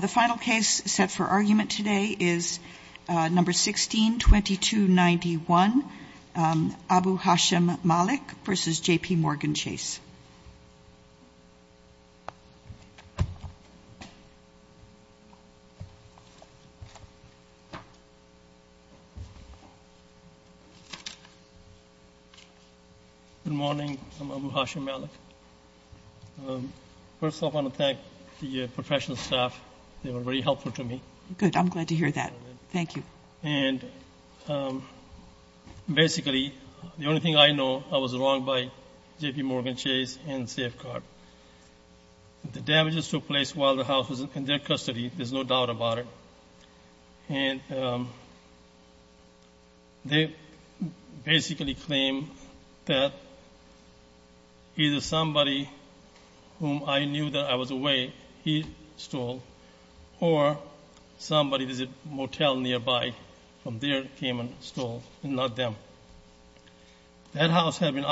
The final case set for argument today is No. 16-2291, Abu Hashim Malick v. JP Morgan Chase. Good morning. I'm Abu Hashim Malick. First of all, I want to thank the professional staff. They were very helpful to me. Good. I'm glad to hear that. Thank you. And basically, the only thing I know, I was wrong by JP Morgan Chase and Safeguard. The damages took place while the house was in their custody. There's no doubt about it. And they basically claimed that either somebody whom I knew that I was away, he stole, or somebody visit motel nearby from there came and stole, not them. That house had been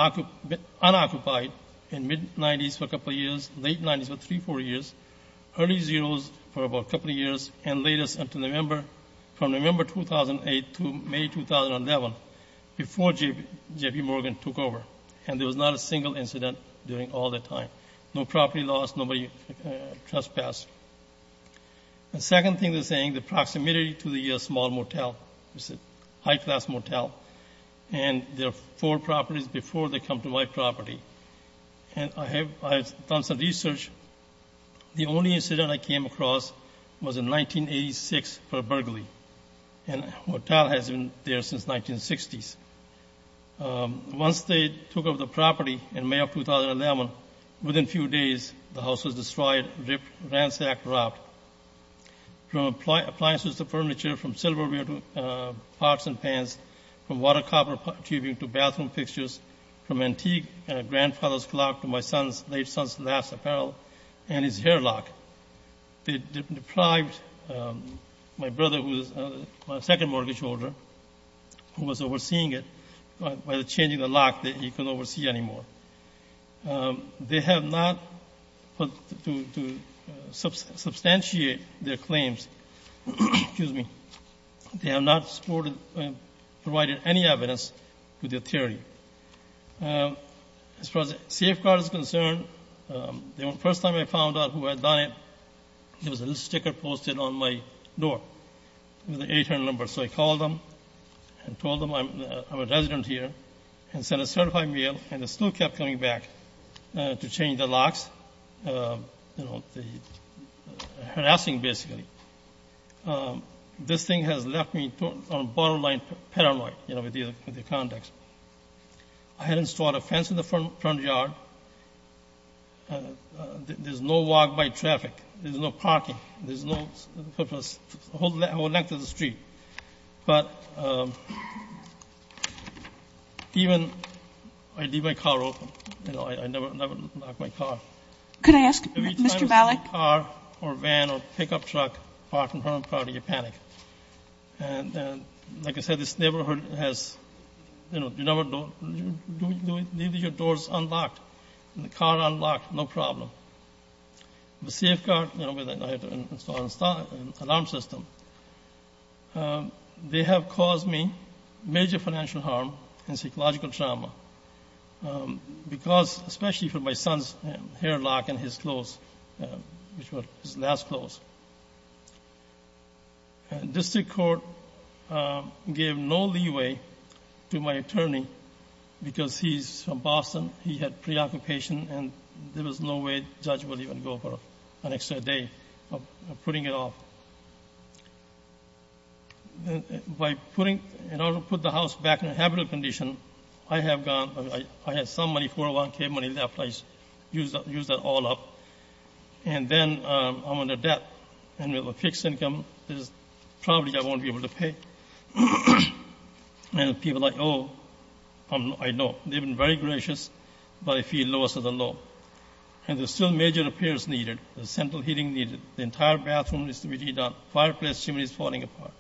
unoccupied in mid-'90s for a couple of years, late-'90s for three, four years, early-'00s for about a couple of years, and late-'00s until November, from November 2008 to May 2011, before JP Morgan took over. And there was not a single incident during all that time. No property lost, nobody trespassed. The second thing they're saying, the proximity to the small motel, high-class motel, and there are four properties before they come to my property. And I have done some research. The only incident I came across was in 1986 for a burglary. And the motel has been there since 1960s. Once they took over the property in May of 2011, within a few days, the house was destroyed, ripped, ransacked, robbed. From appliances to furniture, from silverware to pots and pans, from water-copper tubing to bathroom fixtures, from antique grandfather's clock to my late son's last apparel and his hair lock. They deprived my brother, who is my second mortgage holder, who was overseeing it, by changing the lock that he couldn't oversee anymore. They have not, to substantiate their claims, excuse me, they have not provided any evidence to their theory. As far as the safeguard is concerned, the first time I found out who had done it, there was a little sticker posted on my door with an 800 number. So I called them and told them I'm a resident here and sent a certified mail, and they still kept coming back to change the locks, you know, harassing basically. This thing has left me on a borderline paranoid, you know, with the context. I had installed a fence in the front yard. There's no walkway traffic. There's no parking. There's no purpose, the whole length of the street. But even I leave my car open. You know, I never lock my car. Every time you see a car or van or pickup truck parked in front of you, you panic. And like I said, this neighborhood has, you know, you never do it. You leave your doors unlocked and the car unlocked, no problem. The safeguard, you know, I had to install an alarm system. They have caused me major financial harm and psychological trauma because, especially for my son's hair lock and his clothes, his last clothes. The district court gave no leeway to my attorney because he's from Boston. He had preoccupation, and there was no way the judge would even go for an extra day of putting it off. By putting, in order to put the house back in a habitable condition, I have gone, I had some money, 401K money left. I used that all up. And then I'm under debt, and with a fixed income, there's probably I won't be able to pay. And people are like, oh, I know. They've been very gracious, but I feel lowest of the low. And there's still major repairs needed. There's central heating needed. The entire bathroom needs to be redone. Fireplace chimney is falling apart.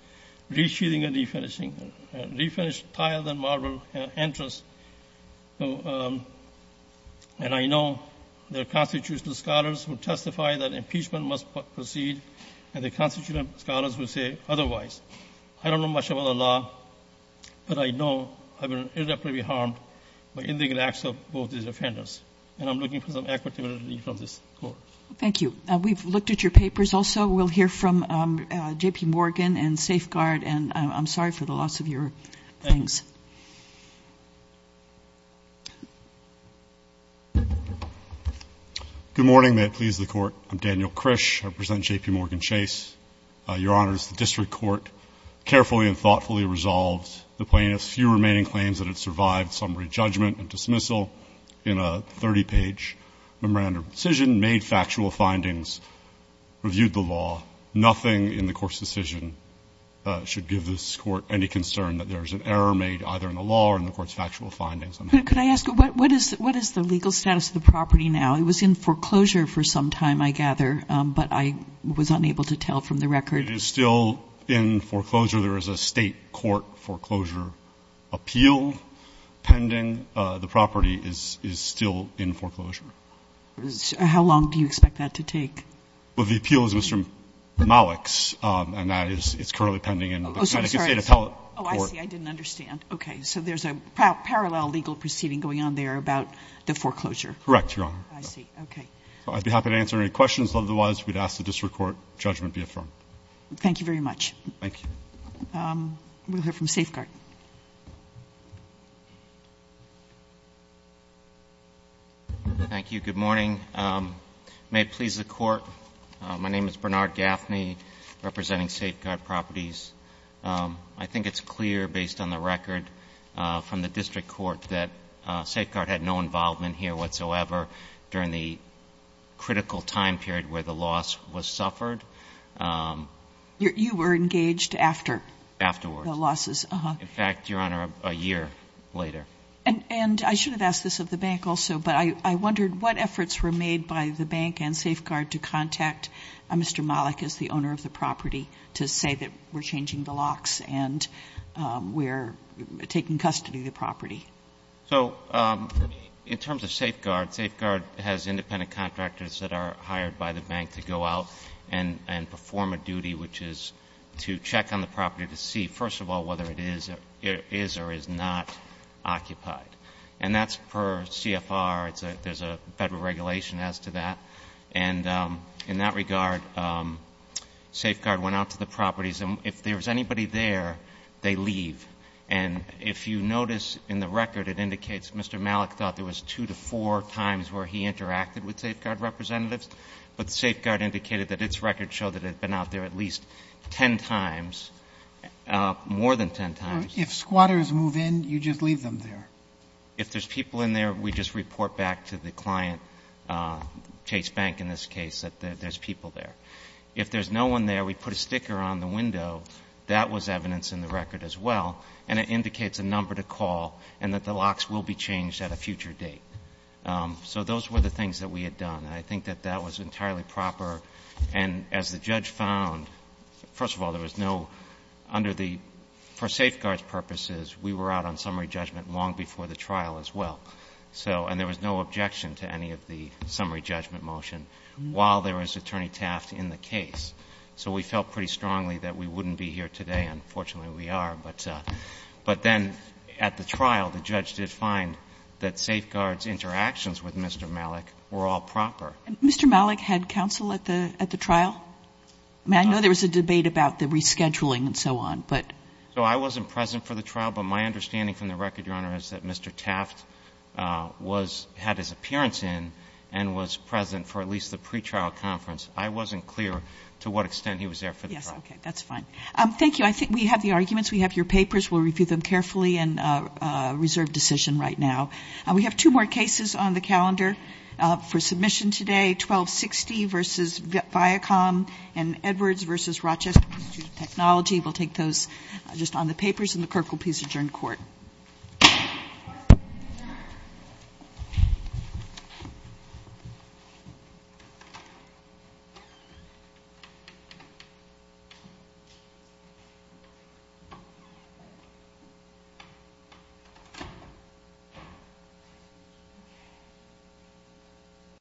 Re-sheathing and refinishing. Refinish tiles and marble entrances. And I know there are constitutional scholars who testify that impeachment must proceed, and there are constitutional scholars who say otherwise. I don't know much about the law, but I know I will inevitably be harmed by illegal acts of both these offenders. And I'm looking for some equitability from this court. Thank you. We've looked at your papers also. We'll hear from J.P. Morgan and Safeguard, and I'm sorry for the loss of your things. Good morning. May it please the Court. I'm Daniel Krish. I represent J.P. Morgan Chase. Your Honors, the district court carefully and thoughtfully resolved the plaintiff's few remaining claims that had survived summary judgment and dismissal in a 30-page memorandum of decision, made factual findings, reviewed the law. Nothing in the court's decision should give this court any concern that there is an error made either in the law or in the court's factual findings. Could I ask, what is the legal status of the property now? It was in foreclosure for some time, I gather, but I was unable to tell from the record. It is still in foreclosure. There is a state court foreclosure appeal pending. The property is still in foreclosure. How long do you expect that to take? Well, the appeal is Mr. Malik's, and that is currently pending in the Connecticut State Appellate Court. Oh, I see. I didn't understand. Okay. So there's a parallel legal proceeding going on there about the foreclosure. Correct, Your Honor. I see. Okay. I'd be happy to answer any questions. Otherwise, we'd ask the district court judgment be affirmed. Thank you very much. Thank you. We'll hear from Safeguard. Thank you. Good morning. May it please the Court. My name is Bernard Gaffney, representing Safeguard Properties. I think it's clear, based on the record from the district court, that Safeguard had no involvement here whatsoever during the critical time period where the loss was suffered. You were engaged after? Afterwards. The losses occurred. In fact, Your Honor, a year later. And I should have asked this of the bank also, but I wondered what efforts were made by the bank and Safeguard to contact Mr. Malik as the owner of the property to say that we're changing the locks and we're taking custody of the property. So in terms of Safeguard, Safeguard has independent contractors that are hired by the bank to go out and perform a duty, which is to check on the property to see, first of all, whether it is or is not occupied. And that's per CFR. There's a federal regulation as to that. And in that regard, Safeguard went out to the properties. And if there was anybody there, they leave. And if you notice in the record, it indicates Mr. Malik thought there was two to four times where he interacted with Safeguard representatives. But Safeguard indicated that its record showed that it had been out there at least ten times, more than ten times. If squatters move in, you just leave them there? If there's people in there, we just report back to the client, Chase Bank in this case, that there's people there. If there's no one there, we put a sticker on the window. That was evidence in the record as well. And it indicates a number to call and that the locks will be changed at a future date. So those were the things that we had done. And I think that that was entirely proper. And as the judge found, first of all, there was no, under the, for Safeguard's purposes, we were out on summary judgment long before the trial as well. So, and there was no objection to any of the summary judgment motion while there was Attorney Taft in the case. So we felt pretty strongly that we wouldn't be here today, and fortunately we are. But then at the trial, the judge did find that Safeguard's interactions with Mr. Malik were all proper. Mr. Malik had counsel at the trial? I mean, I know there was a debate about the rescheduling and so on, but. So I wasn't present for the trial, but my understanding from the record, Your Honor, is that Mr. Taft was, had his appearance in and was present for at least the pretrial conference. I wasn't clear to what extent he was there for the trial. Yes, okay, that's fine. Thank you. I think we have the arguments. We have your papers. We'll review them carefully and reserve decision right now. We have two more cases on the calendar for submission today, 1260 versus Viacom and Edwards versus Rochester Institute of Technology. We'll take those just on the papers, and the clerk will please adjourn court. Thank you.